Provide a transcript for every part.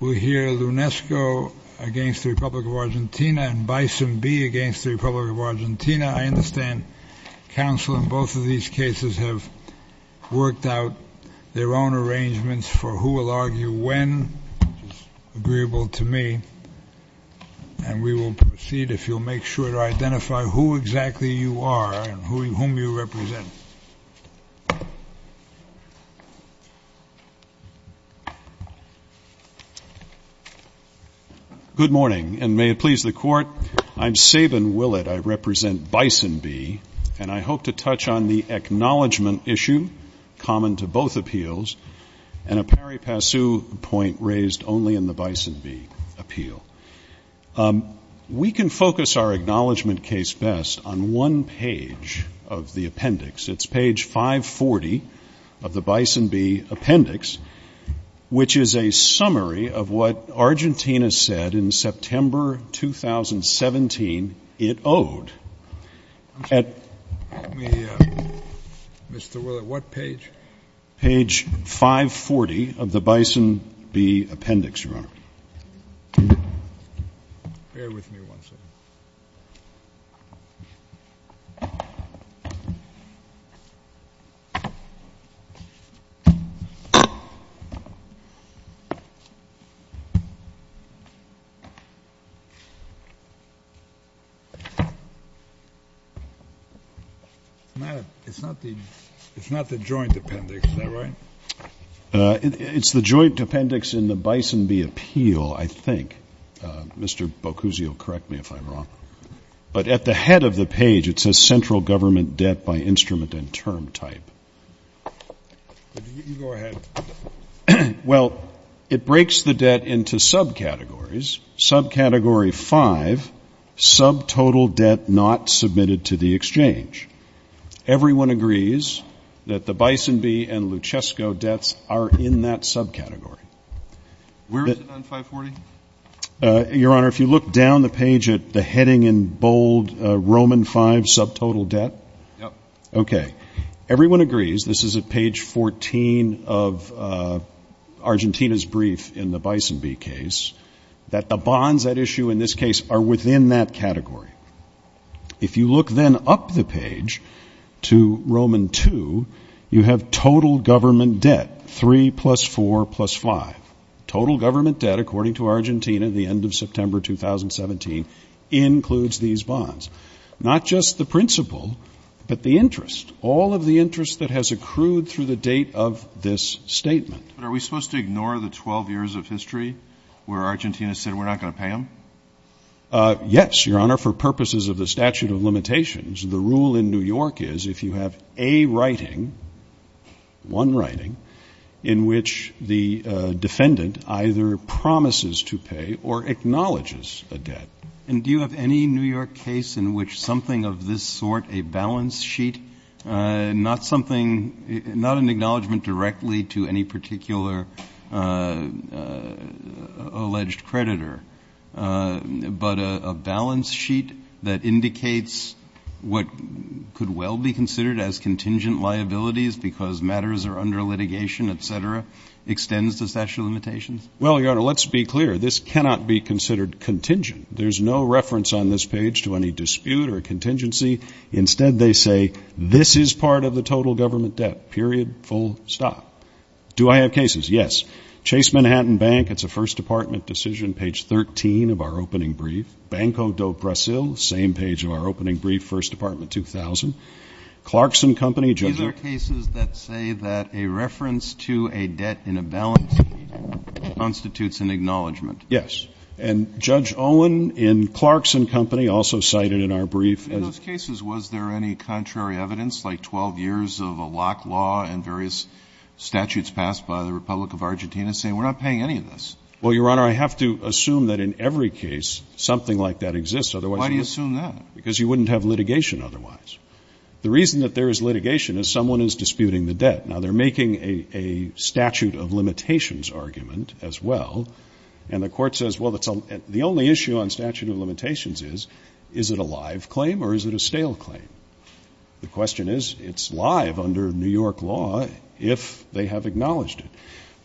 Argentina and Bison B against the Republic of Argentina. I understand counsel in both of these cases have worked out their own arrangements for who will argue when, which is agreeable to me, and we will proceed if you'll make sure to identify who exactly you are and whom you represent. Good morning, and may it please the Court, I'm Sabin Willett, I represent Bison B, and I hope to touch on the acknowledgment issue, common to both appeals, and a pari passu point raised only in the Bison B appeal. We can focus our acknowledgment case best on one page of the appendix. It's page 540 of the Bison B appendix, which is a summary of what Argentina said in September 2017 it owed. Mr. Willett, what page? Page 540 of the Bison B appendix, Your Honor. Bear with me one second. It's not the joint appendix, is that right? It's the joint appendix in the Bison B appeal, I think. Mr. Boccuzzi will correct me if I'm wrong. But at the head of the page it says central government debt by instrument and term type. You go ahead. Well, it breaks the debt into subcategories. Subcategory 5, subtotal debt not submitted to the exchange. Everyone agrees that the Bison B and Luchesco debts are in that subcategory. Where is it on 540? Your Honor, if you look down the page at the heading in bold, Roman V, subtotal debt? Yep. Okay. Everyone agrees, this is at page 14 of Argentina's brief in the Bison B case, that the bonds at issue in this case are within that category. If you look then up the page to Roman II, you have total government debt, 3 plus 4 plus 5. Total government debt, according to Argentina at the end of September 2017, includes these bonds. Not just the principal, but the interest. All of the interest that has accrued through the date of this statement. But are we supposed to ignore the 12 years of history where Argentina said we're not going to pay them? Yes, Your Honor, for purposes of the statute of limitations. The rule in New York is if you have a writing, one writing, in which the defendant either promises to pay or acknowledges a debt. And do you have any New York case in which something of this sort, a balance sheet, not something, not an acknowledgment directly to any particular alleged creditor, but a balance sheet that indicates what could well be considered as contingent liabilities because matters are under litigation, et cetera, extends the statute of limitations? Well, Your Honor, let's be clear. This cannot be considered contingent. There's no reference on this page to any dispute or contingency. Instead, they say this is part of the total government debt, period, full stop. Do I have cases? Yes. Chase Manhattan Bank, it's a First Department decision, page 13 of our opening brief. Banco do Brasil, same page of our opening brief, First Department, 2000. Clarkson Company. These are cases that say that a reference to a debt in a balance sheet constitutes an acknowledgment. Yes. And Judge Owen in Clarkson Company also cited in our brief. In those cases, was there any contrary evidence, like 12 years of a lock law and various statutes passed by the Republic of Argentina saying we're not paying any of this? Well, Your Honor, I have to assume that in every case something like that exists. Why do you assume that? Because you wouldn't have litigation otherwise. The reason that there is litigation is someone is disputing the debt. Now, they're making a statute of limitations argument as well. And the court says, well, the only issue on statute of limitations is, is it a live claim or is it a stale claim? The question is, it's live under New York law if they have acknowledged it.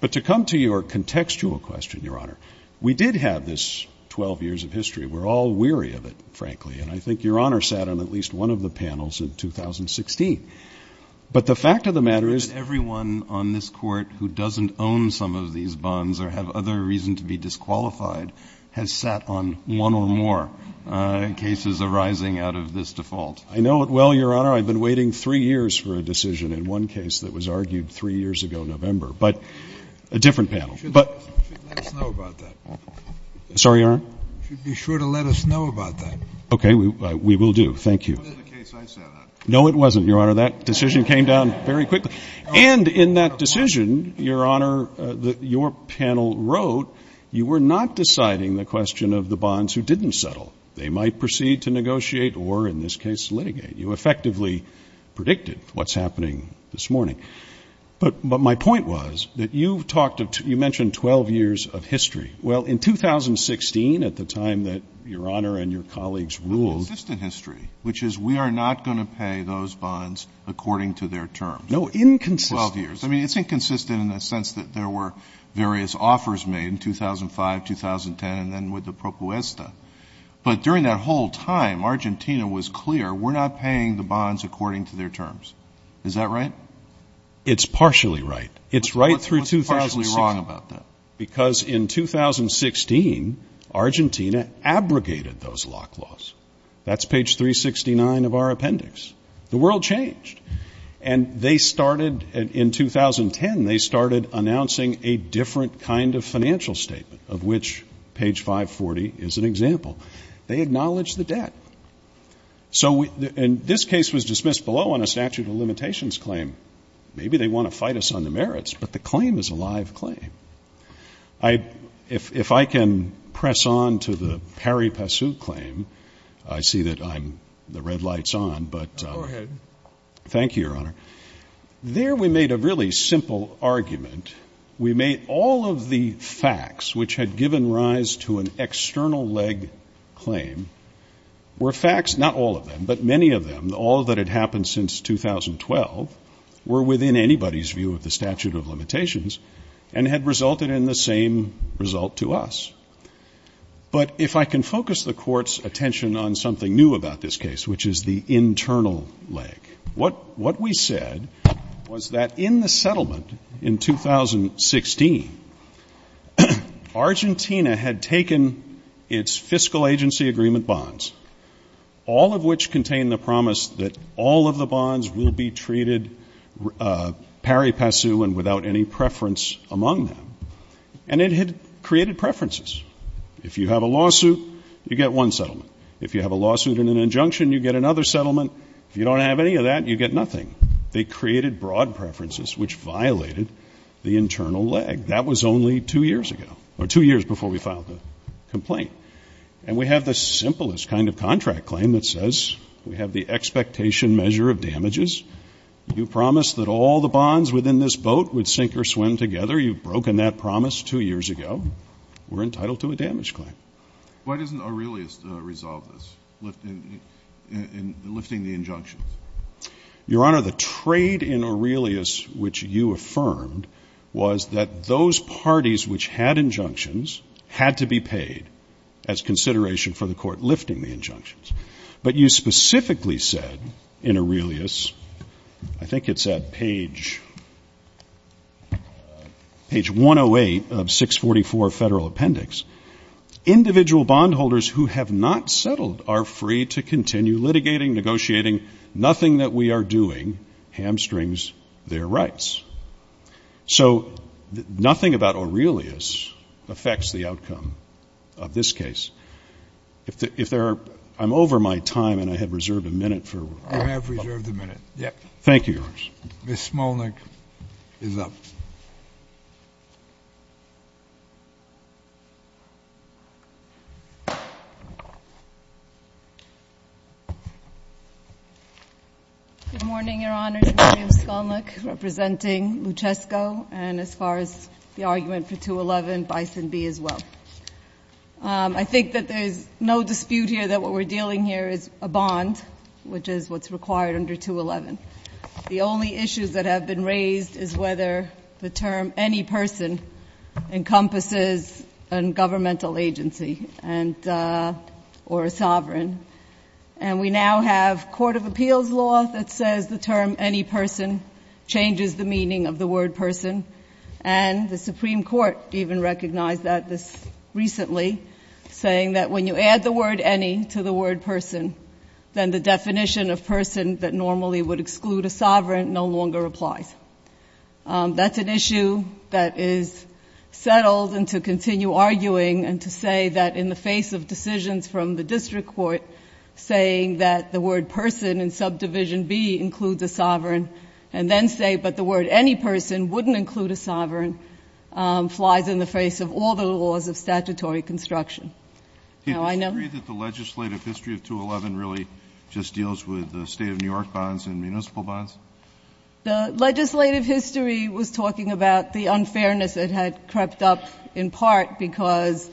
But to come to your contextual question, Your Honor, we did have this 12 years of history. We're all weary of it, frankly. And I think Your Honor sat on at least one of the panels in 2016. But the fact of the matter is that everyone on this Court who doesn't own some of these bonds or have other reason to be disqualified has sat on one or more cases arising out of this default. I know it well, Your Honor. I've been waiting three years for a decision in one case that was argued three years ago in November. But a different panel. You should let us know about that. Sorry, Your Honor? You should be sure to let us know about that. Okay. We will do. Thank you. It wasn't the case I sat on. No, it wasn't, Your Honor. That decision came down very quickly. And in that decision, Your Honor, your panel wrote you were not deciding the question of the bonds who didn't settle. They might proceed to negotiate or, in this case, litigate. You effectively predicted what's happening this morning. But my point was that you've talked of you mentioned 12 years of history. Well, in 2016, at the time that Your Honor and your colleagues ruled. Consistent history, which is we are not going to pay those bonds according to their terms. No, inconsistent. Twelve years. I mean, it's inconsistent in the sense that there were various offers made in 2005, 2010, and then with the propuesta. But during that whole time, Argentina was clear, we're not paying the bonds according to their terms. Is that right? It's partially right. It's right through 2016. What's partially wrong about that? Because in 2016, Argentina abrogated those lock laws. That's page 369 of our appendix. The world changed. And they started, in 2010, they started announcing a different kind of financial statement, of which page 540 is an example. They acknowledged the debt. And this case was dismissed below on a statute of limitations claim. Maybe they want to fight us on the merits, but the claim is a live claim. If I can press on to the Pari Passu claim, I see that the red light's on. Go ahead. Thank you, Your Honor. There we made a really simple argument. We made all of the facts which had given rise to an external leg claim were facts, not all of them, but many of them. And all that had happened since 2012 were within anybody's view of the statute of limitations and had resulted in the same result to us. But if I can focus the Court's attention on something new about this case, which is the internal leg, what we said was that in the settlement in 2016, Argentina had taken its fiscal agency agreement bonds, all of which contained the promise that all of the bonds will be treated Pari Passu and without any preference among them. And it had created preferences. If you have a lawsuit, you get one settlement. If you have a lawsuit and an injunction, you get another settlement. If you don't have any of that, you get nothing. They created broad preferences, which violated the internal leg. That was only two years ago, or two years before we filed the complaint. And we have the simplest kind of contract claim that says we have the expectation measure of damages. You promised that all the bonds within this boat would sink or swim together. You've broken that promise two years ago. We're entitled to a damage claim. Why doesn't Aurelius resolve this, lifting the injunctions? Your Honor, the trade in Aurelius, which you affirmed, was that those parties which had injunctions had to be paid as consideration for the court lifting the injunctions. But you specifically said in Aurelius, I think it's at page 108 of 644 Federal Appendix, individual bondholders who have not settled are free to continue litigating, negotiating. Nothing that we are doing hamstrings their rights. So nothing about Aurelius affects the outcome of this case. I'm over my time, and I have reserved a minute. You have reserved a minute. Thank you, Your Honor. Ms. Smolnik is up. Good morning, Your Honor. I'm Mary M. Smolnik, representing Luchesco, and as far as the argument for 211, Bison B as well. I think that there's no dispute here that what we're dealing here is a bond, which is what's required under 211. The only issues that have been raised is whether the term any person encompasses a governmental agency or a sovereign. And we now have court of appeals law that says the term any person changes the meaning of the word person, and the Supreme Court even recognized that this recently, saying that when you add the word any to the word person, then the definition of person that normally would exclude a sovereign no longer applies. That's an issue that is settled, and to continue arguing and to say that in the face of decisions from the district court, saying that the word person in subdivision B includes a sovereign, and then say, but the word any person wouldn't include a sovereign, flies in the face of all the laws of statutory construction. Do you disagree that the legislative history of 211 really just deals with the state of New York bonds and municipal bonds? The legislative history was talking about the unfairness that had crept up, in part because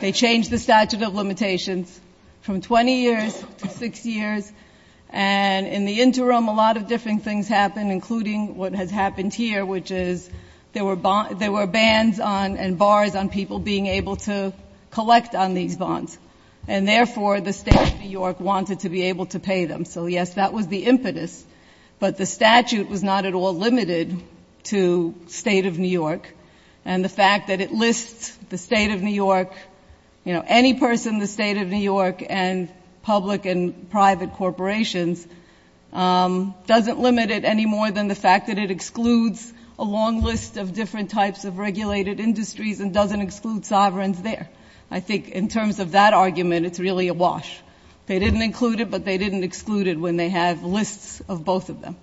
they changed the statute of limitations from 20 years to 6 years. And in the interim, a lot of different things happened, including what has happened here, which is there were bans and bars on people being able to collect on these bonds. And therefore, the state of New York wanted to be able to pay them. So, yes, that was the impetus, but the statute was not at all limited to state of New York. And the fact that it lists the state of New York, you know, any person in the state of New York and public and private corporations, doesn't limit it any more than the fact that it excludes a long list of different types of regulated industries and doesn't exclude sovereigns there. I think in terms of that argument, it's really a wash. They didn't include it, but they didn't exclude it when they have lists of both of them.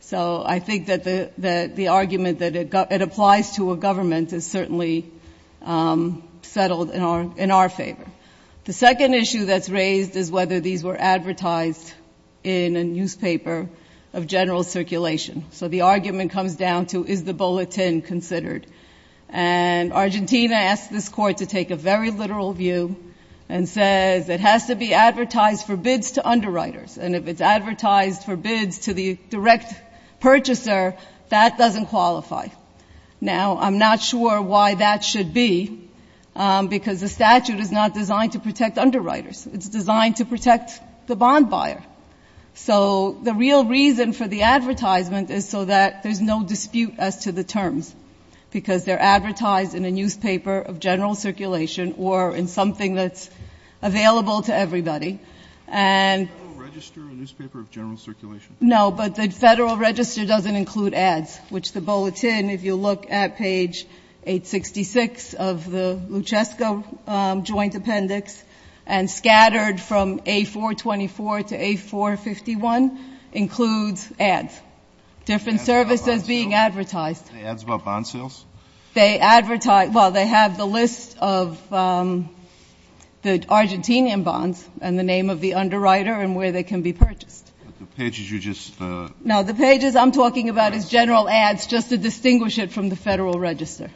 So I think that the argument that it applies to a government is certainly settled in our favor. The second issue that's raised is whether these were advertised in a newspaper of general circulation. So the argument comes down to, is the bulletin considered? And Argentina asked this Court to take a very literal view and says, it has to be advertised for bids to underwriters. And if it's advertised for bids to the direct purchaser, that doesn't qualify. Now, I'm not sure why that should be, because the statute is not designed to protect underwriters. It's designed to protect the bond buyer. So the real reason for the advertisement is so that there's no dispute as to the terms, because they're advertised in a newspaper of general circulation or in something that's available to everybody. And the Federal Register, a newspaper of general circulation? No, but the Federal Register doesn't include ads, which the bulletin, if you look at page 866 of the Luchesco Joint Appendix, and scattered from A424 to A451, includes ads, different services being advertised. Ads about bond sales? They advertise, well, they have the list of the Argentinian bonds and the name of the underwriter and where they can be purchased. But the pages are just the ads? No, the pages I'm talking about is general ads, just to distinguish it from the Federal Register.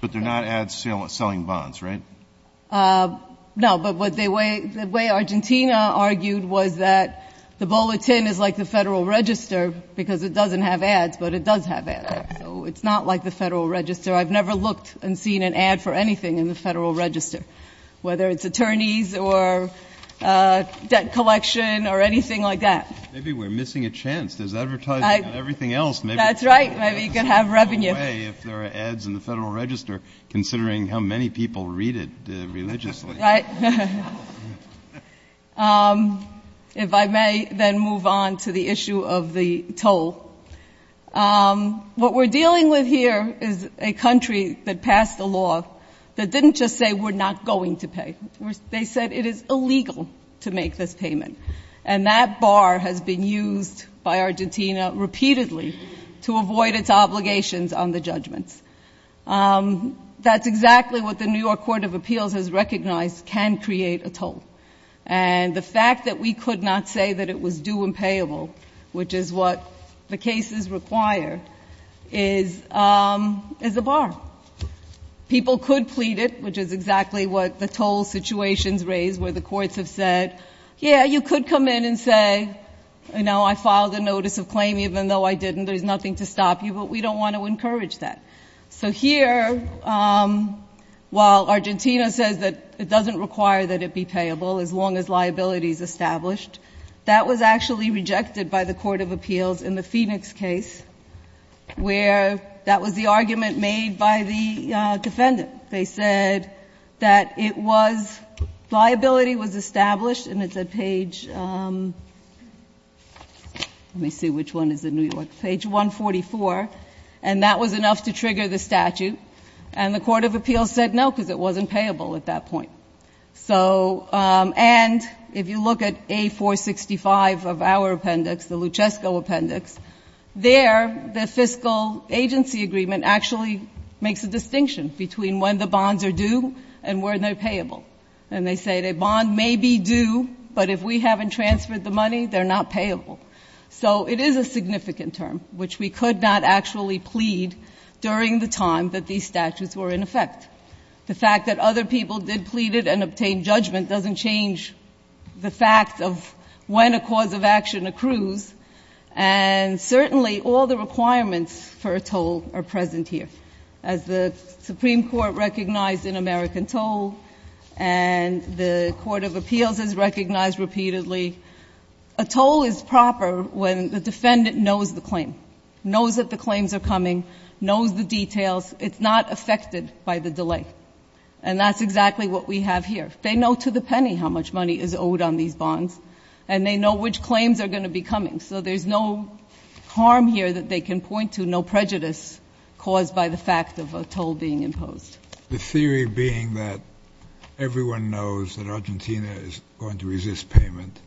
But they're not ads selling bonds, right? No, but the way Argentina argued was that the bulletin is like the Federal Register, because it doesn't have ads, but it does have ads. So it's not like the Federal Register. I've never looked and seen an ad for anything in the Federal Register, whether it's attorneys or debt collection or anything like that. Maybe we're missing a chance. There's advertising on everything else. That's right. Maybe you can have revenue. If there are ads in the Federal Register, considering how many people read it religiously. Right. If I may then move on to the issue of the toll. What we're dealing with here is a country that passed a law that didn't just say we're not going to pay. They said it is illegal to make this payment. And that bar has been used by Argentina repeatedly to avoid its obligations on the judgments. That's exactly what the New York Court of Appeals has recognized can create a toll. And the fact that we could not say that it was due and payable, which is what the cases require, is a bar. People could plead it, which is exactly what the toll situations raise where the courts have said, yeah, you could come in and say, you know, I filed a notice of claim even though I didn't. There's nothing to stop you. But we don't want to encourage that. So here, while Argentina says that it doesn't require that it be payable as long as liability is established, that was actually rejected by the Court of Appeals in the Phoenix case where that was the argument made by the defendant. They said that it was, liability was established, and it's at page, let me see which one is in New York, page 144. And that was enough to trigger the statute. And the Court of Appeals said no because it wasn't payable at that point. So, and if you look at A465 of our appendix, the Luchesco appendix, there the fiscal agency agreement actually makes a distinction between when the bonds are due and when they're payable. And they say the bond may be due, but if we haven't transferred the money, they're not payable. So it is a significant term, which we could not actually plead during the time that these statutes were in effect. The fact that other people did plead it and obtain judgment doesn't change the fact of when a cause of action accrues. And certainly all the requirements for a toll are present here. As the Supreme Court recognized in American Toll, and the Court of Appeals has recognized repeatedly, a toll is proper when the defendant knows the claim, knows that the claims are coming, knows the details. It's not affected by the delay. And that's exactly what we have here. They know to the penny how much money is owed on these bonds, and they know which claims are going to be coming. So there's no harm here that they can point to, no prejudice caused by the fact of a toll being imposed. The theory being that everyone knows that Argentina is going to resist payment.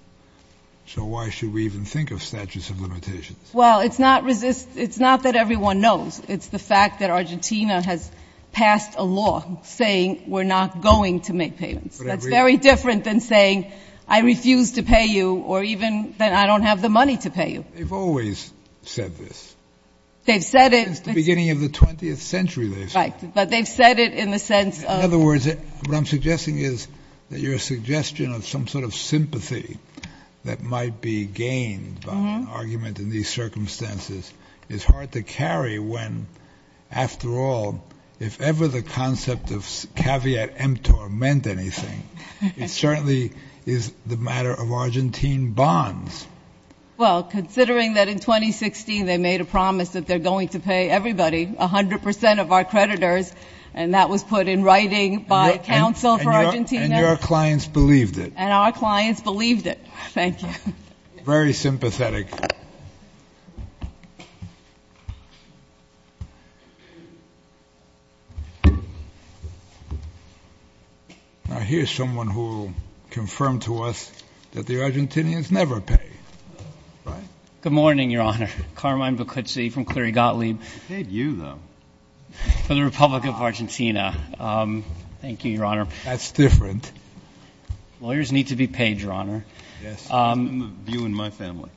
So why should we even think of statutes of limitations? Well, it's not that everyone knows. It's the fact that Argentina has passed a law saying we're not going to make payments. That's very different than saying I refuse to pay you or even that I don't have the money to pay you. They've always said this. They've said it. Since the beginning of the 20th century, they've said it. Right, but they've said it in the sense of — In other words, what I'm suggesting is that your suggestion of some sort of sympathy that might be gained by an argument in these circumstances is hard to carry when, after all, if ever the concept of caveat emptor meant anything, it certainly is the matter of Argentine bonds. Well, considering that in 2016 they made a promise that they're going to pay everybody, 100 percent of our creditors, and that was put in writing by counsel for Argentina. And your clients believed it. And our clients believed it. Thank you. Very sympathetic. Now, here's someone who confirmed to us that the Argentinians never pay. Good morning, Your Honor. Carmine Bocuzzi from Clerigotli. We paid you, though. For the Republic of Argentina. Thank you, Your Honor. That's different. Lawyers need to be paid, Your Honor. Yes. Some of you in my family.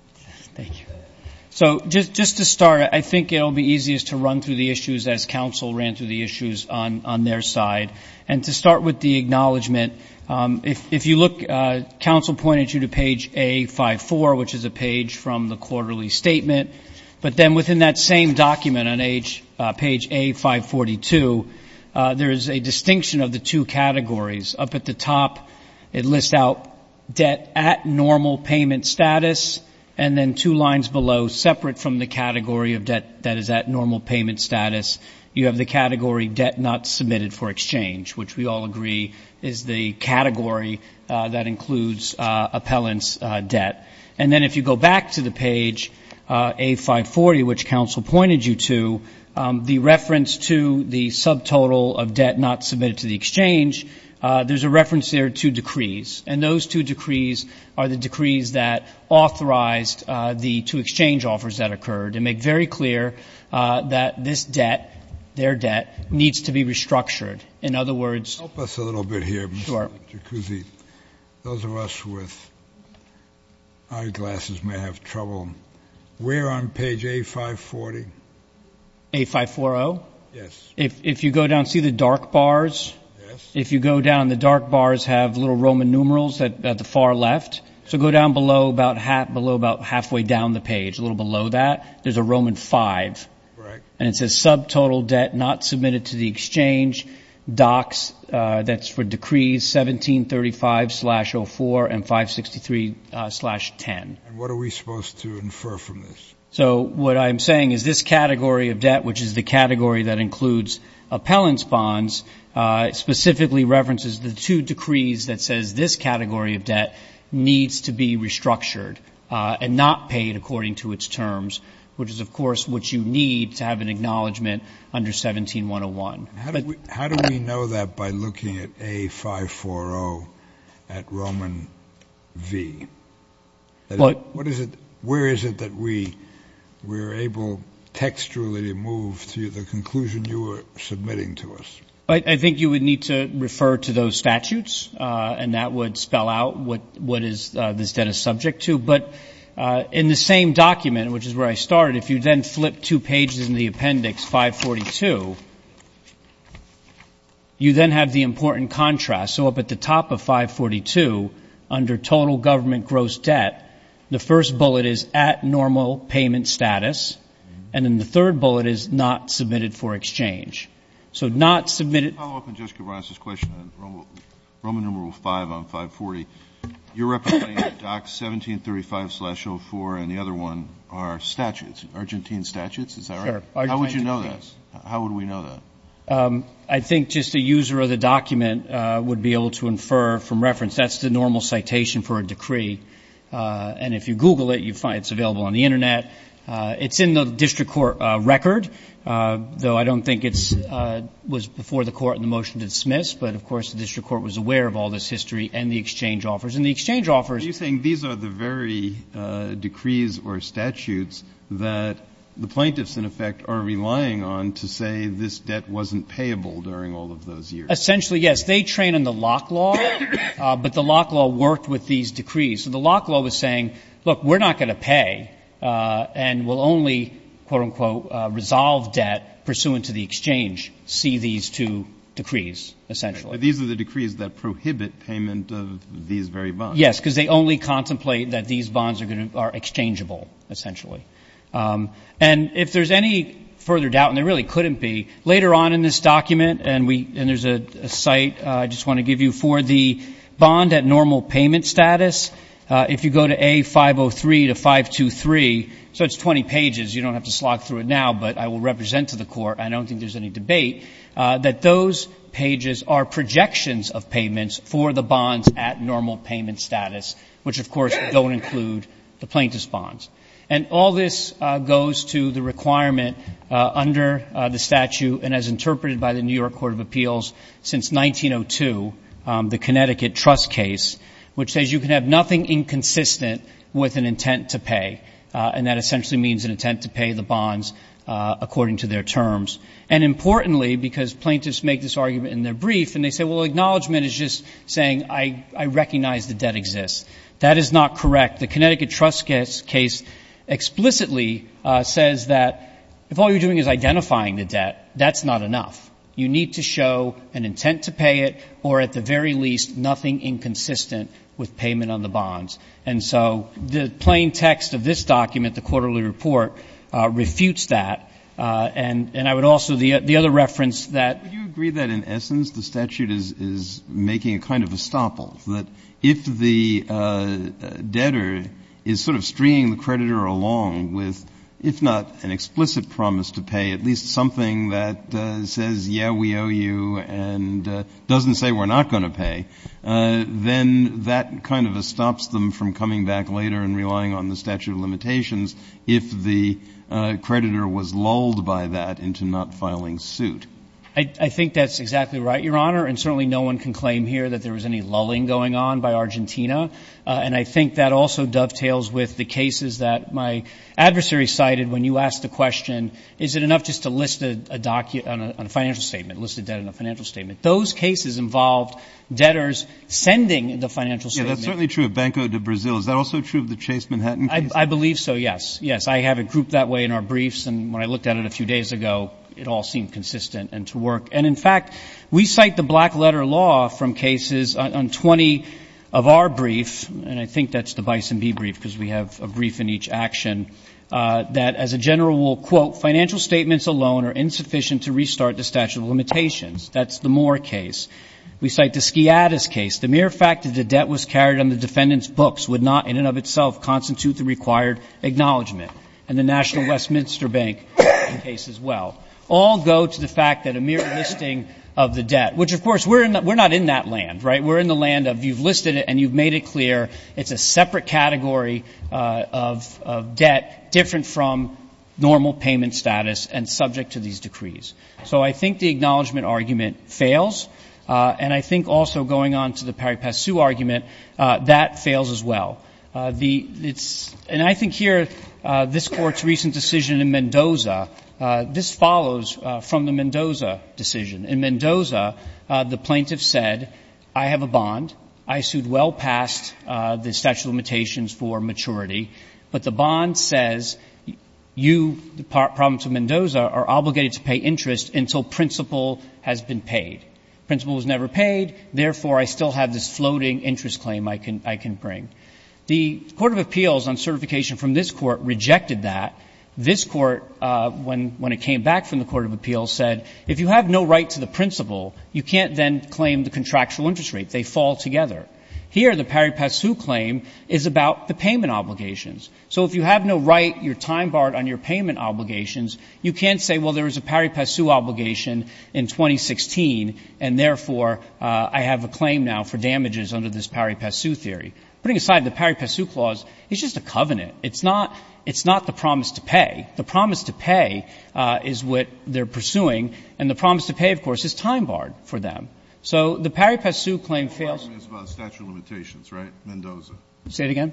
Thank you. So just to start, I think it will be easiest to run through the issues as counsel ran through the issues on their side. And to start with the acknowledgment, if you look, counsel pointed you to page A54, which is a page from the quarterly statement. But then within that same document on page A542, there is a distinction of the two categories. Up at the top, it lists out debt at normal payment status. And then two lines below, separate from the category of debt that is at normal payment status, you have the category debt not submitted for exchange, which we all agree is the category that includes appellant's debt. And then if you go back to the page A540, which counsel pointed you to, the reference to the subtotal of debt not submitted to the exchange, there's a reference there to decrees. And those two decrees are the decrees that authorized the two exchange offers that occurred and make very clear that this debt, their debt, needs to be restructured. In other words — Help us a little bit here, Mr. Jacuzzi. Those of us with eyeglasses may have trouble. We're on page A540. A540? Yes. If you go down, see the dark bars? Yes. If you go down, the dark bars have little Roman numerals at the far left. So go down below about halfway down the page, a little below that, there's a Roman 5. Right. And it says subtotal debt not submitted to the exchange, docs. That's for decrees 1735-04 and 563-10. And what are we supposed to infer from this? So what I'm saying is this category of debt, which is the category that includes appellants' bonds, specifically references the two decrees that says this category of debt needs to be restructured and not paid according to its terms, which is, of course, what you need to have an acknowledgement under 17101. How do we know that by looking at A540 at Roman V? What is it? Where is it that we are able textually to move to the conclusion you are submitting to us? I think you would need to refer to those statutes, and that would spell out what this debt is subject to. But in the same document, which is where I started, if you then flip two pages in the appendix, 542, you then have the important contrast. So up at the top of 542, under total government gross debt, the first bullet is at normal payment status, and then the third bullet is not submitted for exchange. So not submitted. Let me follow up on Judge Cabranes' question on Roman V on 540. You're representing docs 1735-04, and the other one are statutes, Argentine statutes. Is that right? How would you know that? How would we know that? I think just a user of the document would be able to infer from reference. That's the normal citation for a decree. And if you Google it, you find it's available on the Internet. It's in the district court record, though I don't think it was before the court in the motion to dismiss. But, of course, the district court was aware of all this history and the exchange offers. And the exchange offers. But you're saying these are the very decrees or statutes that the plaintiffs, in effect, are relying on to say this debt wasn't payable during all of those years. Essentially, yes. They train in the Locke law, but the Locke law worked with these decrees. So the Locke law was saying, look, we're not going to pay and we'll only, quote, unquote, resolve debt pursuant to the exchange, see these two decrees, essentially. But these are the decrees that prohibit payment of these very bonds. Yes, because they only contemplate that these bonds are exchangeable, essentially. And if there's any further doubt, and there really couldn't be, later on in this document, and there's a site I just want to give you for the bond at normal payment status, if you go to A503 to 523, so it's 20 pages. You don't have to slog through it now, but I will represent to the Court. I don't think there's any debate. That those pages are projections of payments for the bonds at normal payment status, which, of course, don't include the plaintiff's bonds. And all this goes to the requirement under the statute, and as interpreted by the New York Court of Appeals since 1902, the Connecticut trust case, which says you can have nothing inconsistent with an intent to pay. And that essentially means an intent to pay the bonds according to their terms. And importantly, because plaintiffs make this argument in their brief, and they say, well, acknowledgment is just saying I recognize the debt exists. That is not correct. The Connecticut trust case explicitly says that if all you're doing is identifying the debt, that's not enough. You need to show an intent to pay it or, at the very least, nothing inconsistent with payment on the bonds. And so the plain text of this document, the quarterly report, refutes that. And I would also the other reference that you agree that in essence the statute is making a kind of estoppel, that if the debtor is sort of stringing the creditor along with, if not an explicit promise to pay, at least something that says, yeah, we owe you and doesn't say we're not going to pay, then that kind of stops them from coming back later and relying on the statute of limitations if the creditor was lulled by that into not filing suit. I think that's exactly right, Your Honor. And certainly no one can claim here that there was any lulling going on by Argentina. And I think that also dovetails with the cases that my adversary cited when you asked the question, is it enough just to list a document on a financial statement, list a debt in a financial statement? Those cases involved debtors sending the financial statement. Yeah, that's certainly true of Banco de Brazil. Is that also true of the Chase Manhattan case? I believe so, yes. Yes, I have it grouped that way in our briefs. And when I looked at it a few days ago, it all seemed consistent and to work. And, in fact, we cite the black letter law from cases on 20 of our briefs, and I think that's the Bison Bee brief because we have a brief in each action, that as a general rule, quote, financial statements alone are insufficient to restart the statute of limitations. That's the Moore case. We cite the Sciadis case. The mere fact that the debt was carried on the defendant's books would not, in and of itself, constitute the required acknowledgment. And the National Westminster Bank case as well. All go to the fact that a mere listing of the debt, which, of course, we're not in that land, right? We're in the land of you've listed it and you've made it clear it's a separate category of debt, different from normal payment status and subject to these decrees. So I think the acknowledgment argument fails. And I think also going on to the Parry-Passu argument, that fails as well. And I think here this Court's recent decision in Mendoza, this follows from the Mendoza decision. In Mendoza, the plaintiff said, I have a bond, I sued well past the statute of limitations for maturity, but the bond says you, the province of Mendoza, are obligated to pay interest until principle has been paid. Principle was never paid. Therefore, I still have this floating interest claim I can bring. The Court of Appeals on certification from this Court rejected that. This Court, when it came back from the Court of Appeals, said if you have no right to the principle, you can't then claim the contractual interest rate. They fall together. Here, the Parry-Passu claim is about the payment obligations. So if you have no right, you're time-barred on your payment obligations, you can't say, well, there was a Parry-Passu obligation in 2016, and therefore I have a claim now for damages under this Parry-Passu theory. Putting aside the Parry-Passu clause, it's just a covenant. It's not the promise to pay. The promise to pay is what they're pursuing, and the promise to pay, of course, is time-barred for them. So the Parry-Passu claim fails. The argument is about statute of limitations, right, Mendoza? Say it again.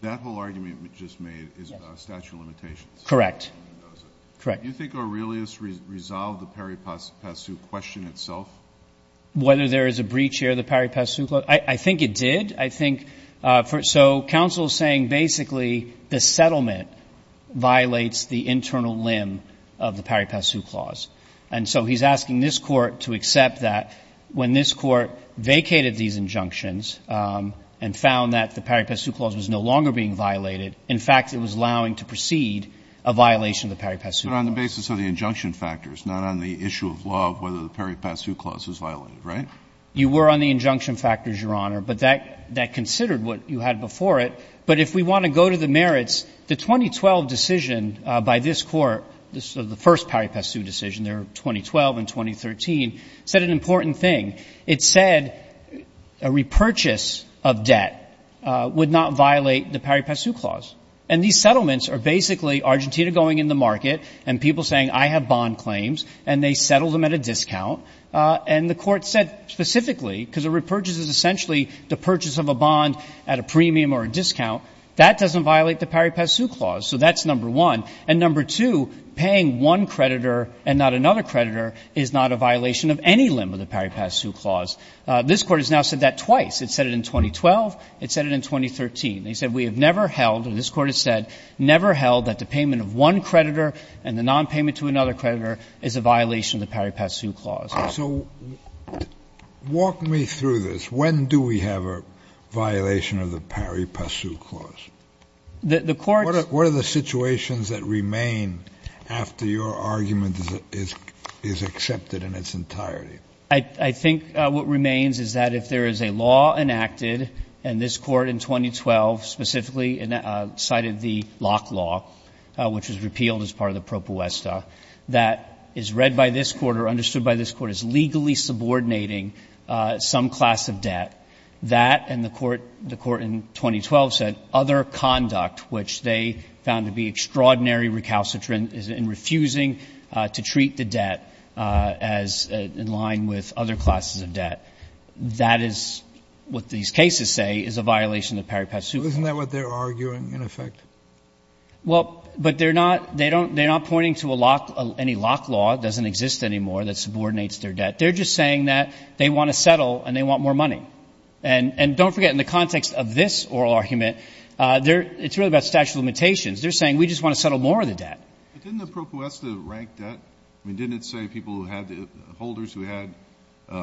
That whole argument you just made is about statute of limitations. Correct. Mendoza. Correct. Do you think Aurelius resolved the Parry-Passu question itself? Whether there is a breach here of the Parry-Passu clause? I think it did. I think for so counsel is saying basically the settlement violates the internal limb of the Parry-Passu clause. And so he's asking this Court to accept that when this Court vacated these injunctions and found that the Parry-Passu clause was no longer being violated, in fact, it was allowing to proceed a violation of the Parry-Passu clause. But on the basis of the injunction factors, not on the issue of law of whether the Parry-Passu clause was violated, right? You were on the injunction factors, Your Honor, but that considered what you had before it. But if we want to go to the merits, the 2012 decision by this Court, the first Parry-Passu decision there, 2012 and 2013, said an important thing. It said a repurchase of debt would not violate the Parry-Passu clause. And these settlements are basically Argentina going in the market and people saying I have bond claims, and they settled them at a discount. And the Court said specifically, because a repurchase is essentially the purchase of a bond at a premium or a discount, that doesn't violate the Parry-Passu clause. So that's number one. And number two, paying one creditor and not another creditor is not a violation of any limb of the Parry-Passu clause. This Court has now said that twice. It said it in 2012. It said it in 2013. They said we have never held, and this Court has said, never held that the payment of one creditor and the nonpayment to another creditor is a violation of the Parry-Passu clause. So walk me through this. When do we have a violation of the Parry-Passu clause? The Court's going to ask, what are the situations that remain after your argument is accepted in its entirety? I think what remains is that if there is a law enacted, and this Court in 2012 specifically cited the Locke Law, which was repealed as part of the propuesta, that is read by this Court or understood by this Court as legally subordinating some class of debt, that and the Court in 2012 said, other conduct, which they found to be extraordinary recalcitrant in refusing to treat the debt as in line with other classes of debt, that is what these cases say is a violation of the Parry-Passu clause. Isn't that what they're arguing, in effect? Well, but they're not pointing to any Locke Law that doesn't exist anymore that subordinates their debt. They're just saying that they want to settle and they want more money. And don't forget, in the context of this oral argument, it's really about statute limitations. They're saying we just want to settle more of the debt. But didn't the propuesta rank debt? I mean, didn't it say people who had to – holders who had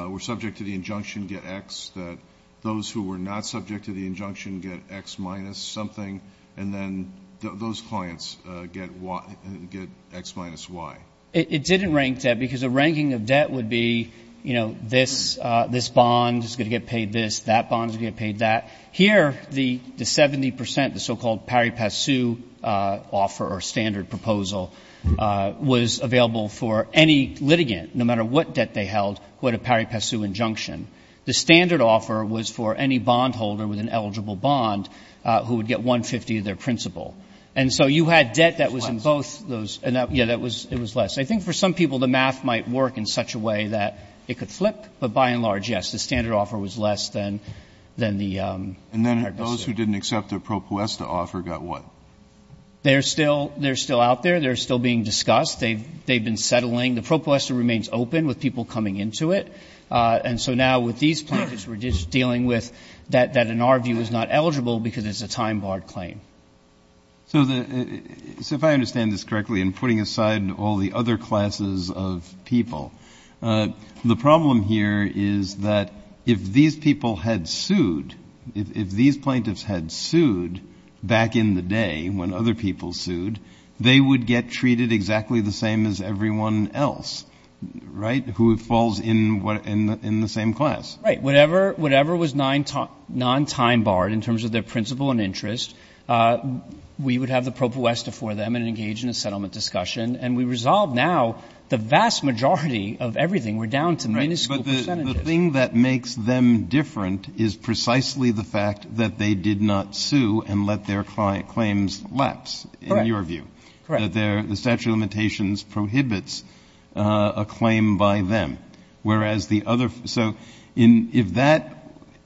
– were subject to the injunction get X, that those who were not subject to the injunction get X minus something, and then those clients get Y – get X minus Y? It didn't rank debt because a ranking of debt would be, you know, this bond is going to get paid this, that bond is going to get paid that. Here, the 70 percent, the so-called Parry-Passu offer or standard proposal was available for any litigant, no matter what debt they held, who had a Parry-Passu injunction. The standard offer was for any bondholder with an eligible bond who would get 150 of their principal. And so you had debt that was in both those. And that – yeah, it was less. I think for some people the math might work in such a way that it could flip. But by and large, yes, the standard offer was less than – than the Parry-Passu. And then those who didn't accept the Propuesta offer got what? They're still – they're still out there. They're still being discussed. They've – they've been settling. The Propuesta remains open with people coming into it. And so now with these plaintiffs, we're just dealing with that in our view is not eligible because it's a time-barred claim. So the – so if I understand this correctly, in putting aside all the other classes of people, the problem here is that if these people had sued, if these plaintiffs had sued back in the day when other people sued, they would get treated exactly the same as everyone else, right, who falls in the same class. Right. Whatever was non-time-barred in terms of their principal and interest, we would have the Propuesta for them and engage in a settlement discussion. And we resolve now the vast majority of everything. We're down to minuscule percentages. Right. But the thing that makes them different is precisely the fact that they did not sue and let their claims lapse in your view. Correct. Correct. That their – the statute of limitations prohibits a claim by them, whereas the other – so in – if that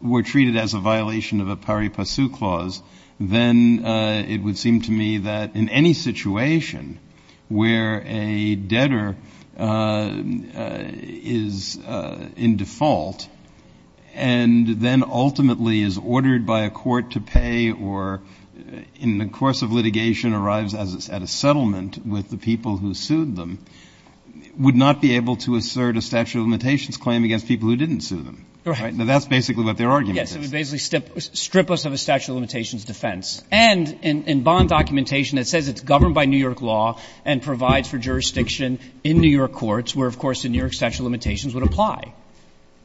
were treated as a violation of a Parry-Passu clause, then it would seem to me that in any situation where a debtor is in default and then ultimately is ordered by a court to pay or in the course of litigation arrives at a settlement with the people who sued them, would not be able to assert a statute of limitations claim against people who didn't sue them. Right. Now, that's basically what their argument is. Yes. It would basically strip us of a statute of limitations defense. And in bond documentation, it says it's governed by New York law and provides for jurisdiction in New York courts where, of course, the New York statute of limitations would apply.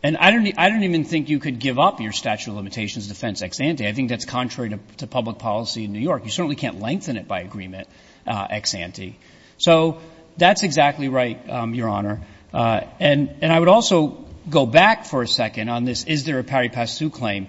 And I don't even think you could give up your statute of limitations defense ex ante. I think that's contrary to public policy in New York. You certainly can't lengthen it by agreement ex ante. So that's exactly right, Your Honor. And I would also go back for a second on this is there a Parry-Passu claim.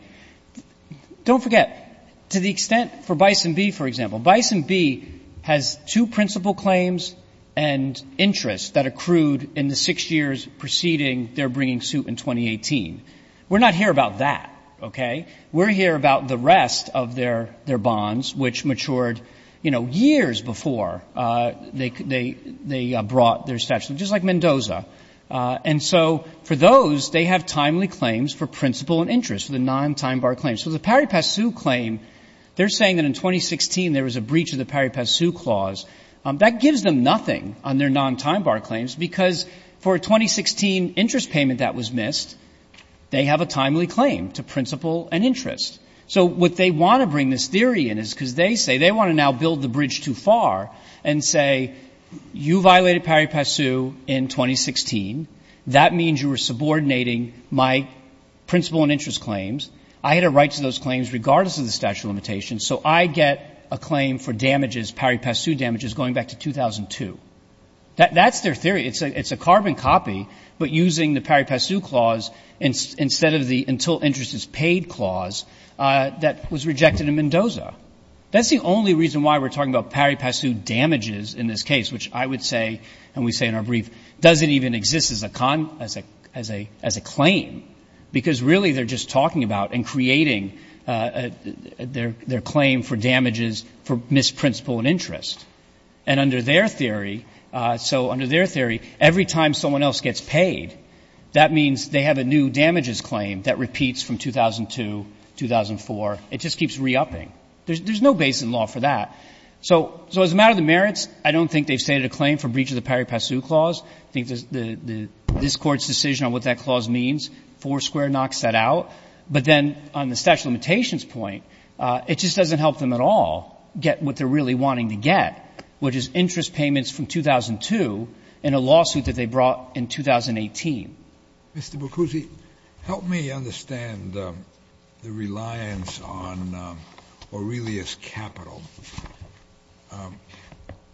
Don't forget, to the extent for Bison B, for example, Bison B has two principal claims and interests that accrued in the six years preceding their bringing suit in 2018. We're not here about that, okay? We're here about the rest of their bonds, which matured, you know, years before they brought their statute. Just like Mendoza. And so for those, they have timely claims for principal and interest for the non-time bar claims. So the Parry-Passu claim, they're saying that in 2016 there was a breach of the Parry-Passu clause. That gives them nothing on their non-time bar claims because for a 2016 interest payment that was missed, they have a timely claim to principal and interest. So what they want to bring this theory in is because they say they want to now build the bridge too far and say you violated Parry-Passu in 2016, that means you were subordinating my principal and interest claims. I had a right to those claims regardless of the statute of limitations, so I get a claim for damages, Parry-Passu damages going back to 2002. That's their theory. It's a carbon copy, but using the Parry-Passu clause instead of the until interest is paid clause that was rejected in Mendoza. That's the only reason why we're talking about Parry-Passu damages in this case, which I would say and we say in our brief doesn't even exist as a claim, because really they're just talking about and creating their claim for damages for missed principal and interest. And under their theory, so under their theory, every time someone else gets paid, that means they have a new damages claim that repeats from 2002, 2004. It just keeps re-upping. There's no basis in law for that. So as a matter of the merits, I don't think they've stated a claim for breach of the Parry-Passu clause. I think this Court's decision on what that clause means, four square knocks that out. But then on the statute of limitations point, it just doesn't help them at all get what they're really wanting to get, which is interest payments from 2002 in a lawsuit that they brought in 2018. Mr. Bucuzzi, help me understand the reliance on Aurelius capital,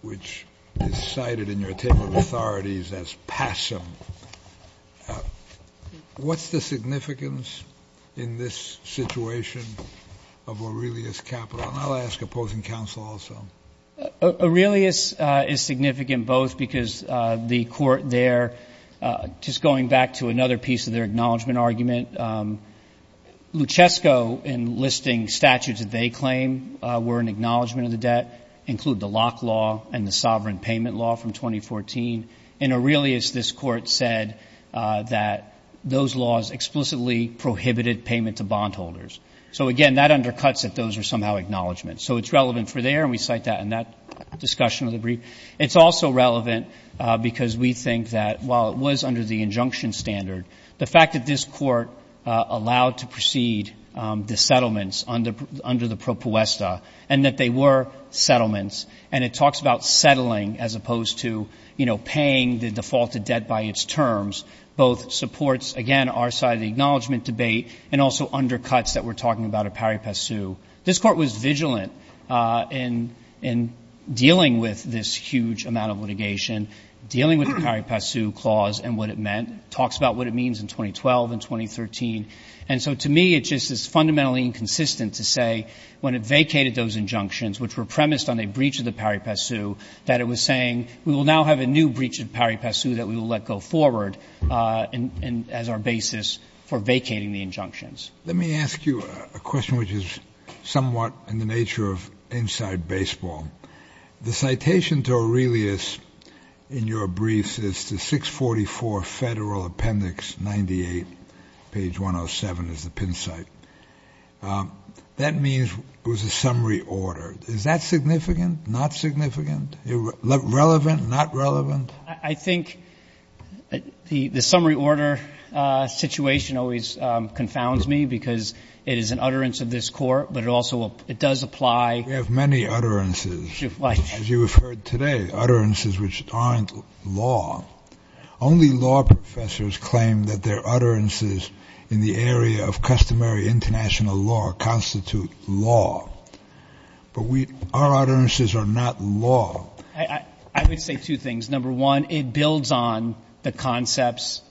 which is cited in your table of authorities as passive. What's the significance in this situation of Aurelius capital? And I'll ask opposing counsel also. Aurelius is significant both because the Court there, just going back to another piece of their acknowledgment argument, Luchesco, in listing statutes that they claim were an acknowledgment of the debt, include the Locke Law and the Sovereign Payment Law from 2014. In Aurelius, this Court said that those laws explicitly prohibited payment to bondholders. So, again, that undercuts that those are somehow acknowledgments. So it's relevant for there, and we cite that in that discussion of the brief. It's also relevant because we think that while it was under the injunction standard, the fact that this Court allowed to proceed the settlements under the propuesta, and that they were settlements, and it talks about settling as opposed to, you know, paying the defaulted debt by its terms, both supports, again, our side of the acknowledgment debate and also undercuts that we're talking about at Parry-Pessu. This Court was vigilant in dealing with this huge amount of litigation, dealing with the Parry-Pessu clause and what it meant. It talks about what it means in 2012 and 2013. And so to me, it just is fundamentally inconsistent to say when it vacated those injunctions, which were premised on a breach of the Parry-Pessu, that it was saying we will now have a new breach of Parry-Pessu that we will let go forward as our basis for vacating the injunctions. Let me ask you a question which is somewhat in the nature of inside baseball. The citation to Aurelius in your briefs is to 644 Federal Appendix 98, page 107 is the pin site. That means it was a summary order. Is that significant, not significant? Relevant, not relevant? I think the summary order situation always confounds me because it is an utterance of this Court, but it also does apply. We have many utterances. As you have heard today, utterances which aren't law. Only law professors claim that their utterances in the area of customary international law constitute law. But our utterances are not law. I would say two things. Number one, it builds on the concepts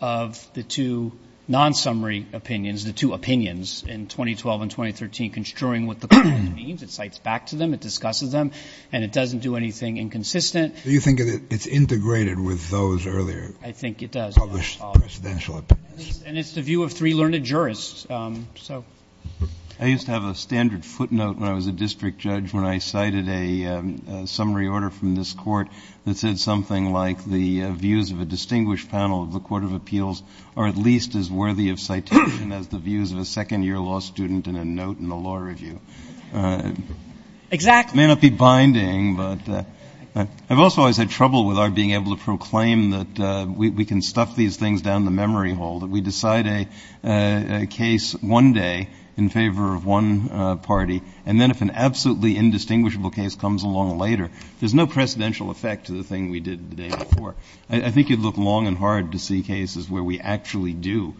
of the two non-summary opinions, the two opinions in 2012 and 2013, construing what the clause means. It cites back to them. It discusses them. And it doesn't do anything inconsistent. Do you think it's integrated with those earlier published presidential opinions? I think it does. And it's the view of three learned jurists. I used to have a standard footnote when I was a district judge when I cited a summary order from this Court that said something like the views of a distinguished panel of the Court of Appeals are at least as worthy of citation as the views of a second year law student in a note in a law review. Exactly. It may not be binding, but I've also always had trouble with our being able to proclaim that we can stuff these things down the memory hole, that we decide a case one day in favor of one party, and then if an absolutely indistinguishable case comes along later, there's no precedential effect to the thing we did the day before. I think it would look long and hard to see cases where we actually do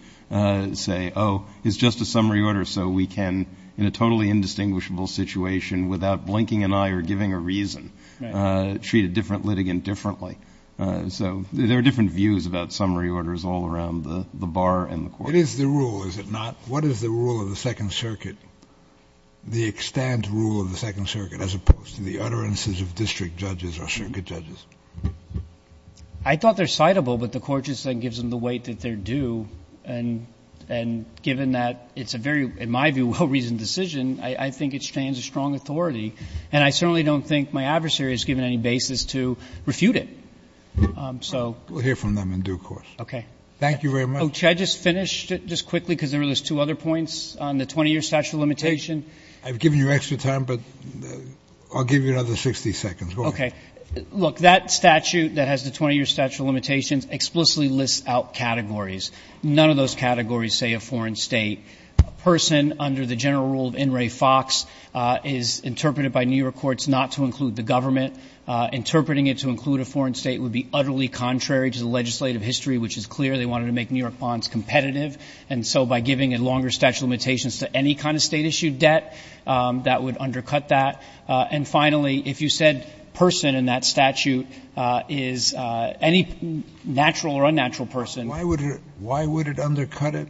say, oh, it's just a summary order, so we can, in a totally indistinguishable situation without blinking an eye or giving a reason, treat a different litigant differently. So there are different views about summary orders all around the bar and the court. It is the rule, is it not? What is the rule of the Second Circuit, the extant rule of the Second Circuit, as opposed to the utterances of district judges or circuit judges? I thought they're citable, but the Court just then gives them the weight that they're due, and given that it's a very, in my view, well-reasoned decision, I think it stands a strong authority. And I certainly don't think my adversary is given any basis to refute it. So. We'll hear from them in due course. Okay. Thank you very much. Oh, should I just finish just quickly, because there were those two other points on the 20-year statute of limitations? I've given you extra time, but I'll give you another 60 seconds. Okay. Look, that statute that has the 20-year statute of limitations explicitly lists out categories. None of those categories say a foreign state. A person under the general rule of In re Fox is interpreted by New York courts not to include the government. Interpreting it to include a foreign state would be utterly contrary to the legislative history, which is clear. They wanted to make New York bonds competitive. And so by giving a longer statute of limitations to any kind of State-issued debt, that would undercut that. And finally, if you said person in that statute is any natural or unnatural person. Why would it undercut it?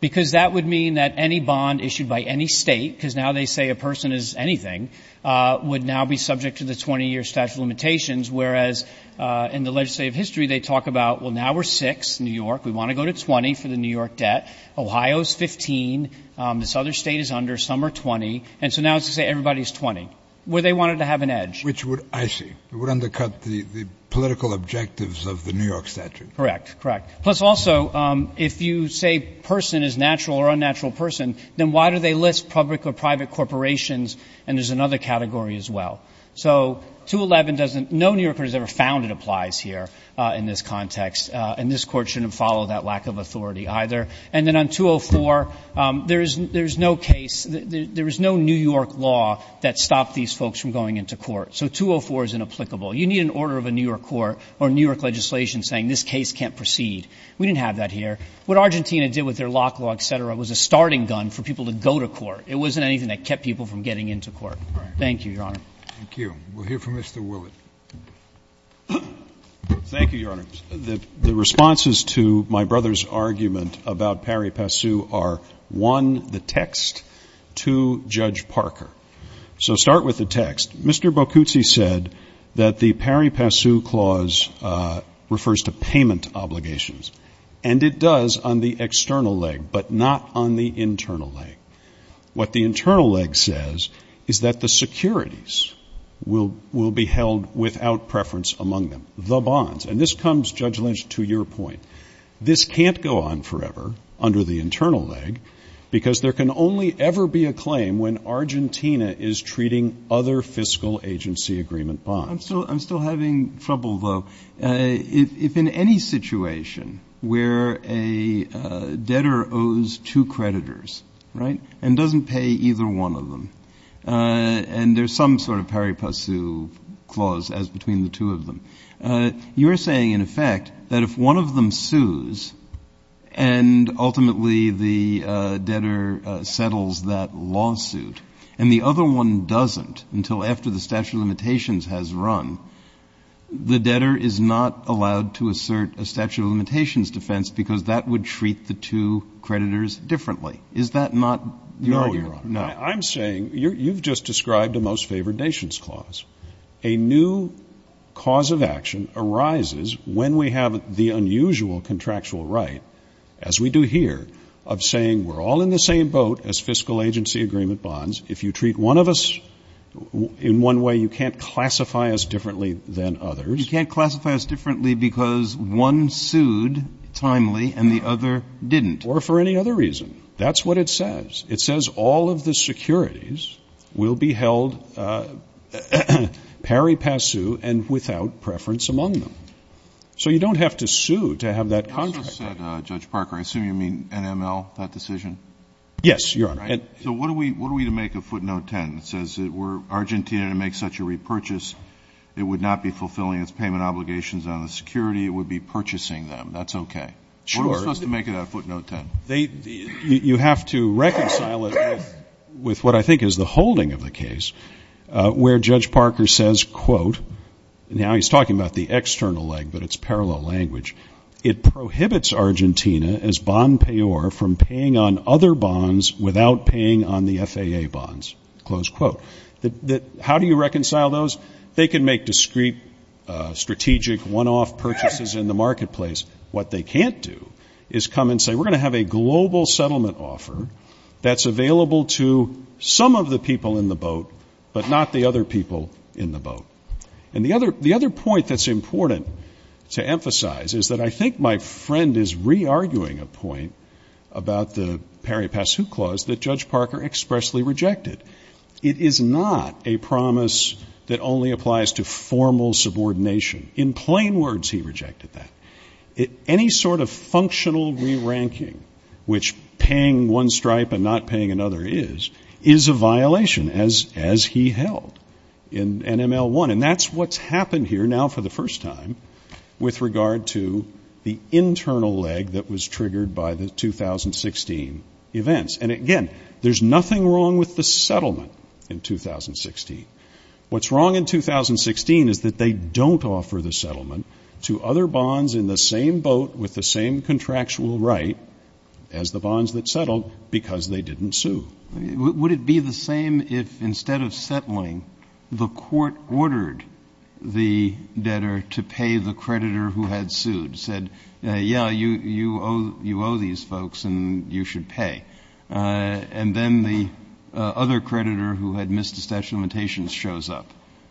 Because that would mean that any bond issued by any State, because now they say a person is anything, would now be subject to the 20-year statute of limitations, whereas in the legislative history they talk about, well, now we're six, New York. We want to go to 20 for the New York debt. Ohio's 15. The Southern State is under. Some are 20. And so now it's to say everybody's 20, where they wanted to have an edge. Which would, I see, would undercut the political objectives of the New York statute. Correct. Correct. Plus also, if you say person is natural or unnatural person, then why do they list public or private corporations? And there's another category as well. So 211 doesn't, no New Yorker has ever found it applies here in this context. And this Court shouldn't follow that lack of authority either. And then on 204, there is no case, there is no New York law that stopped these folks from going into court. So 204 is inapplicable. You need an order of a New York court or New York legislation saying this case can't proceed. We didn't have that here. What Argentina did with their lock law, et cetera, was a starting gun for people to go to court. It wasn't anything that kept people from getting into court. Thank you, Your Honor. Thank you. We'll hear from Mr. Willett. Thank you, Your Honor. The responses to my brother's argument about pari passu are, one, the text. Two, Judge Parker. So start with the text. Mr. Bocuzzi said that the pari passu clause refers to payment obligations. And it does on the external leg, but not on the internal leg. What the internal leg says is that the securities will be held without preference among them. The bonds. And this comes, Judge Lynch, to your point. This can't go on forever under the internal leg because there can only ever be a claim when Argentina is treating other fiscal agency agreement bonds. I'm still having trouble, though. If in any situation where a debtor owes two creditors, right, and doesn't pay either one of them, and there's some sort of pari passu clause as between the two of them, you're saying, in effect, that if one of them sues and ultimately the debtor settles that lawsuit and the other one doesn't until after the statute of limitations has run, the debtor is not allowed to assert a statute of limitations defense because that would treat the two creditors differently. Is that not your idea? No, Your Honor. I'm saying you've just described a most favored nations clause. A new cause of action arises when we have the unusual contractual right, as we do here, of saying we're all in the same boat as fiscal agency agreement bonds. If you treat one of us in one way, you can't classify us differently than others. You can't classify us differently because one sued timely and the other didn't. Or for any other reason. That's what it says. It says all of the securities will be held pari passu and without preference among them. So you don't have to sue to have that contract. You also said, Judge Parker, I assume you mean NML, that decision? Yes, Your Honor. So what are we to make of footnote 10? It says that were Argentina to make such a repurchase, it would not be fulfilling its payment obligations on the security. It would be purchasing them. That's okay. Sure. What are we supposed to make of that footnote 10? You have to reconcile it with what I think is the holding of the case where Judge Parker says, quote, now he's talking about the external leg, but it's parallel language. It prohibits Argentina as bond payor from paying on other bonds without paying on the FAA bonds. Close quote. How do you reconcile those? They can make discrete, strategic, one-off purchases in the marketplace. What they can't do is come and say, we're going to have a global settlement offer that's available to some of the people in the boat, but not the other people in the boat. And the other point that's important to emphasize is that I think my friend is re-arguing a point about the Parry Pass Who clause that Judge Parker expressly rejected. It is not a promise that only applies to formal subordination. In plain words, he rejected that. Any sort of functional re-ranking, which paying one stripe and not paying another is, is a And that's what's happened here now for the first time with regard to the internal leg that was triggered by the 2016 events. And again, there's nothing wrong with the settlement in 2016. What's wrong in 2016 is that they don't offer the settlement to other bonds in the same boat with the same contractual right as the bonds that settled because they didn't sue. Would it be the same if instead of settling, the court ordered the debtor to pay the creditor who had sued, said, yeah, you owe these folks and you should pay. And then the other creditor who had missed a statute of limitations shows up.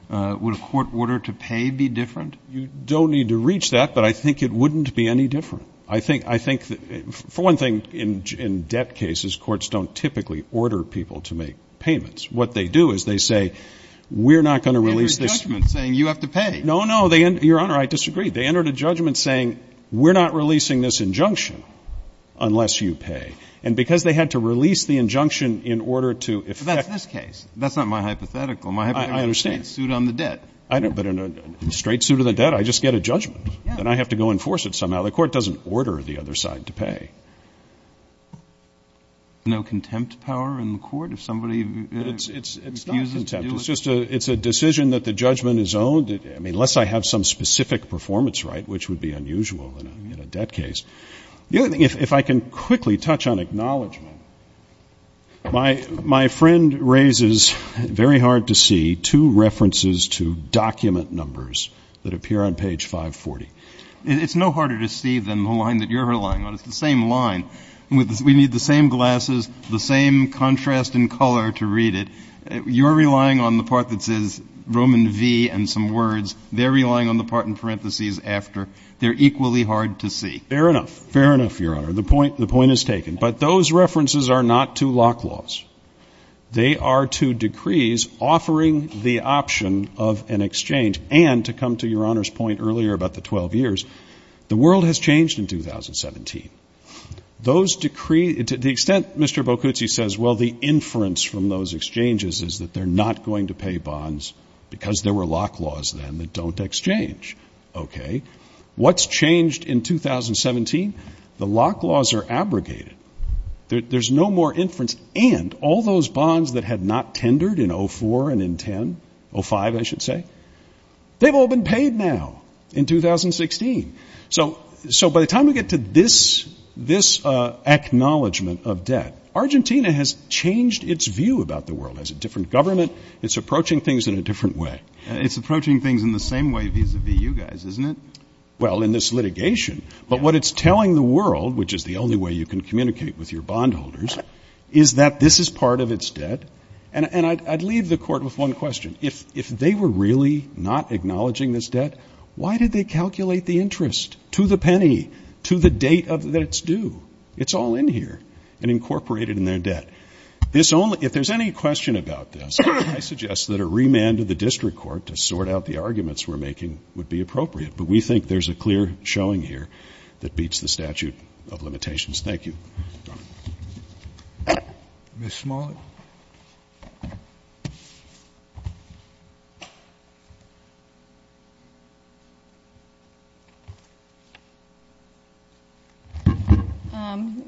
Would a court order to pay be different? You don't need to reach that, but I think it wouldn't be any different. I think, I think, for one thing, in debt cases, courts don't typically order people to make payments. What they do is they say, we're not going to release this. They enter a judgment saying you have to pay. No, no. Your Honor, I disagree. They entered a judgment saying, we're not releasing this injunction unless you pay. And because they had to release the injunction in order to effect. But that's this case. That's not my hypothetical. My hypothetical is a suit on the debt. I understand. But in a straight suit on the debt, I just get a judgment. Then I have to go enforce it somehow. The court doesn't order the other side to pay. No contempt power in the court if somebody refuses to do it? It's not contempt. It's just a decision that the judgment is owned. I mean, unless I have some specific performance right, which would be unusual in a debt case. The other thing, if I can quickly touch on acknowledgment. My friend raises, very hard to see, two references to document numbers that appear on page 540. It's no harder to see than the line that you're relying on. It's the same line. We need the same glasses, the same contrast in color to read it. You're relying on the part that says Roman V and some words. They're relying on the part in parentheses after. They're equally hard to see. Fair enough. Fair enough, Your Honor. The point is taken. But those references are not to lock laws. They are to decrees offering the option of an exchange. And to come to Your Honor's point earlier about the 12 years, the world has changed in 2017. Those decrees, to the extent Mr. Bocuzzi says, well, the inference from those exchanges is that they're not going to pay bonds because there were lock laws then that don't exchange. Okay. What's changed in 2017? The lock laws are abrogated. There's no more inference. And all those bonds that had not tendered in 2004 and in 2010, 2005 I should say, they've all been paid now in 2016. So by the time we get to this acknowledgment of debt, Argentina has changed its view about the world. It has a different government. It's approaching things in a different way. It's approaching things in the same way vis-a-vis you guys, isn't it? Well, in this litigation. But what it's telling the world, which is the only way you can communicate with your bondholders, is that this is part of its debt. And I'd leave the Court with one question. If they were really not acknowledging this debt, why did they calculate the interest to the penny, to the date that it's due? It's all in here and incorporated in their debt. If there's any question about this, I suggest that a remand of the district court to sort out the arguments we're making would be appropriate. But we think there's a clear showing here that beats the statute of limitations. Thank you. Ms. Smollett.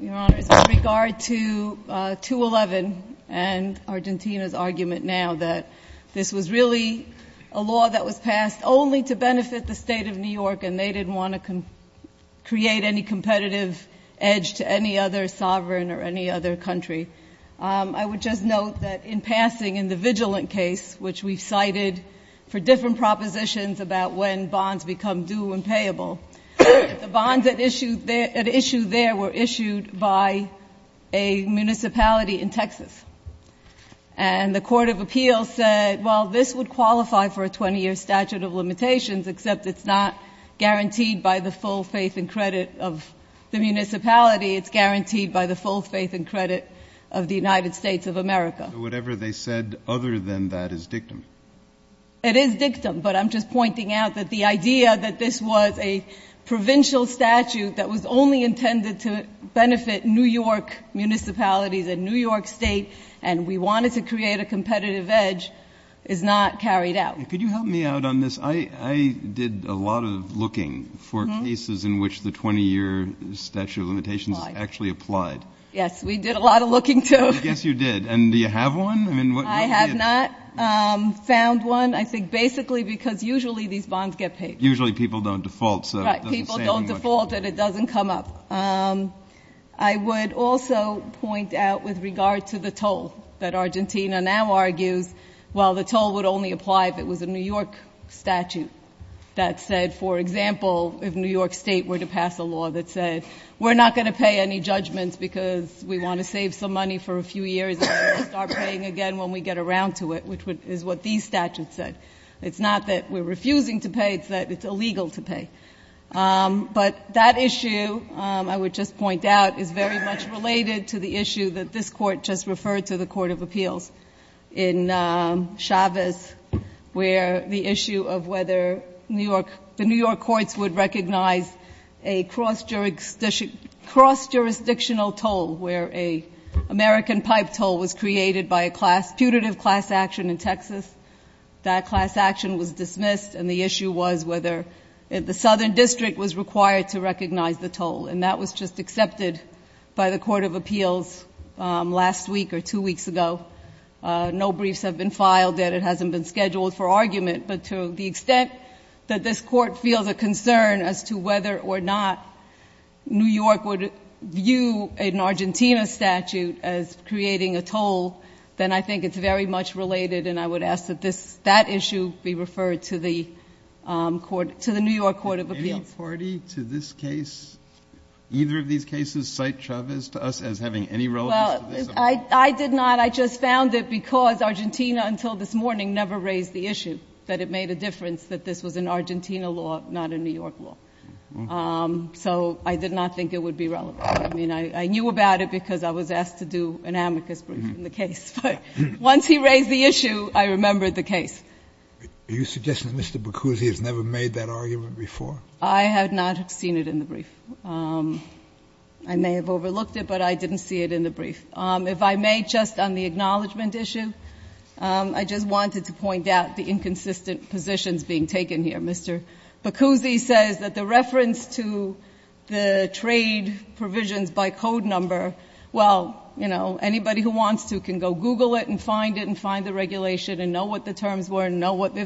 Your Honor, with regard to 211 and Argentina's argument now that this was really a law that was passed only to benefit the State of New York and they didn't want to create any competitive edge to any other sovereign or any other country, I would just note that in passing in the Vigilant case, which we've cited for different propositions about when bonds become due and payable, the bonds at issue there were issued by a municipality in Texas. And the court of appeals said, well, this would qualify for a 20-year statute of limitations, except it's not guaranteed by the full faith and credit of the municipality. It's guaranteed by the full faith and credit of the United States of America. So whatever they said other than that is dictum? It is dictum. But I'm just pointing out that the idea that this was a provincial statute that was only intended to benefit New York municipalities and New York State and we wanted to create a competitive edge is not carried out. Could you help me out on this? I did a lot of looking for cases in which the 20-year statute of limitations is actually applied. Yes, we did a lot of looking, too. Yes, you did. And do you have one? I have not found one. I think basically because usually these bonds get paid. Usually people don't default. Right, people don't default and it doesn't come up. I would also point out with regard to the toll that Argentina now argues, while the toll would only apply if it was a New York statute that said, for example, if New York State were to pass a law that said, we're not going to pay any judgments because we want to save some money for a few years and we're going to start paying again when we get around to it, which is what these statutes said. It's not that we're refusing to pay. It's that it's illegal to pay. But that issue, I would just point out, is very much related to the issue that this Court just referred to the Court of Appeals in Chavez, where the issue of whether the New York courts would recognize a cross-jurisdictional toll where an American pipe toll was created by a punitive class action in Texas. That class action was dismissed, and the issue was whether the Southern District was required to recognize the toll. And that was just accepted by the Court of Appeals last week or two weeks ago. No briefs have been filed that it hasn't been scheduled for argument. But to the extent that this Court feels a concern as to whether or not New York would view an Argentina statute as creating a toll, then I think it's very much related, and I would ask that that issue be referred to the New York Court of Appeals. Any authority to this case, either of these cases, cite Chavez to us as having any relevance to this? Well, I did not. I just found it because Argentina until this morning never raised the issue that it made a difference, that this was an Argentina law, not a New York law. So I did not think it would be relevant. I mean, I knew about it because I was asked to do an amicus brief on the case. But once he raised the issue, I remembered the case. Are you suggesting that Mr. Boccuzzi has never made that argument before? I have not seen it in the brief. I may have overlooked it, but I didn't see it in the brief. If I may, just on the acknowledgment issue, I just wanted to point out the inconsistent positions being taken here. Mr. Boccuzzi says that the reference to the trade provisions by code number, well, you know, if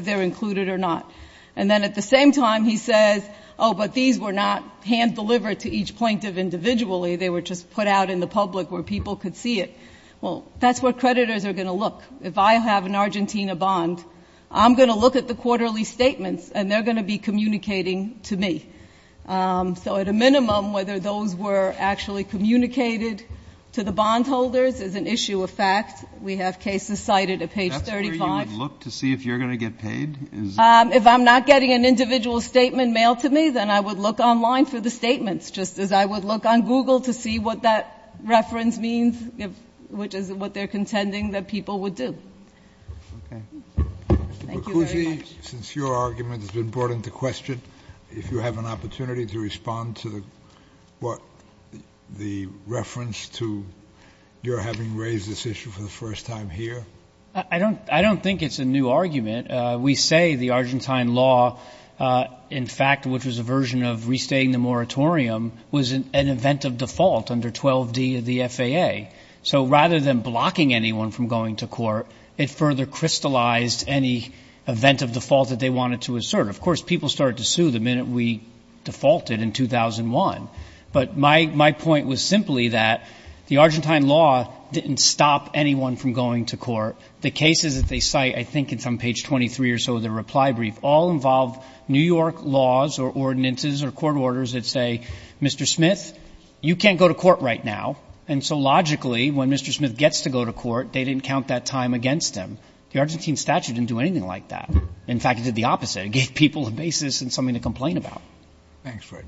they're included or not. And then at the same time, he says, oh, but these were not hand-delivered to each plaintiff individually. They were just put out in the public where people could see it. Well, that's what creditors are going to look. If I have an Argentina bond, I'm going to look at the quarterly statements, and they're going to be communicating to me. So at a minimum, whether those were actually communicated to the bondholders is an issue of fact. We have cases cited at page 35. So you would look to see if you're going to get paid? If I'm not getting an individual statement mailed to me, then I would look online for the statements, just as I would look on Google to see what that reference means, which is what they're contending that people would do. Thank you very much. Mr. Boccuzzi, since your argument has been brought into question, if you have an opportunity to respond to the reference to your having raised this issue for the first time here. I don't think it's a new argument. We say the Argentine law, in fact, which was a version of restating the moratorium, was an event of default under 12D of the FAA. So rather than blocking anyone from going to court, it further crystallized any event of default that they wanted to assert. Of course, people started to sue the minute we defaulted in 2001. But my point was simply that the Argentine law didn't stop anyone from going to court. The cases that they cite, I think it's on page 23 or so of their reply brief, all involve New York laws or ordinances or court orders that say, Mr. Smith, you can't go to court right now. And so logically, when Mr. Smith gets to go to court, they didn't count that time against him. The Argentine statute didn't do anything like that. In fact, it did the opposite. It gave people a basis and something to complain about. Thanks, Fred.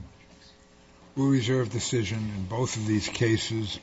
We'll reserve decision in both of these cases.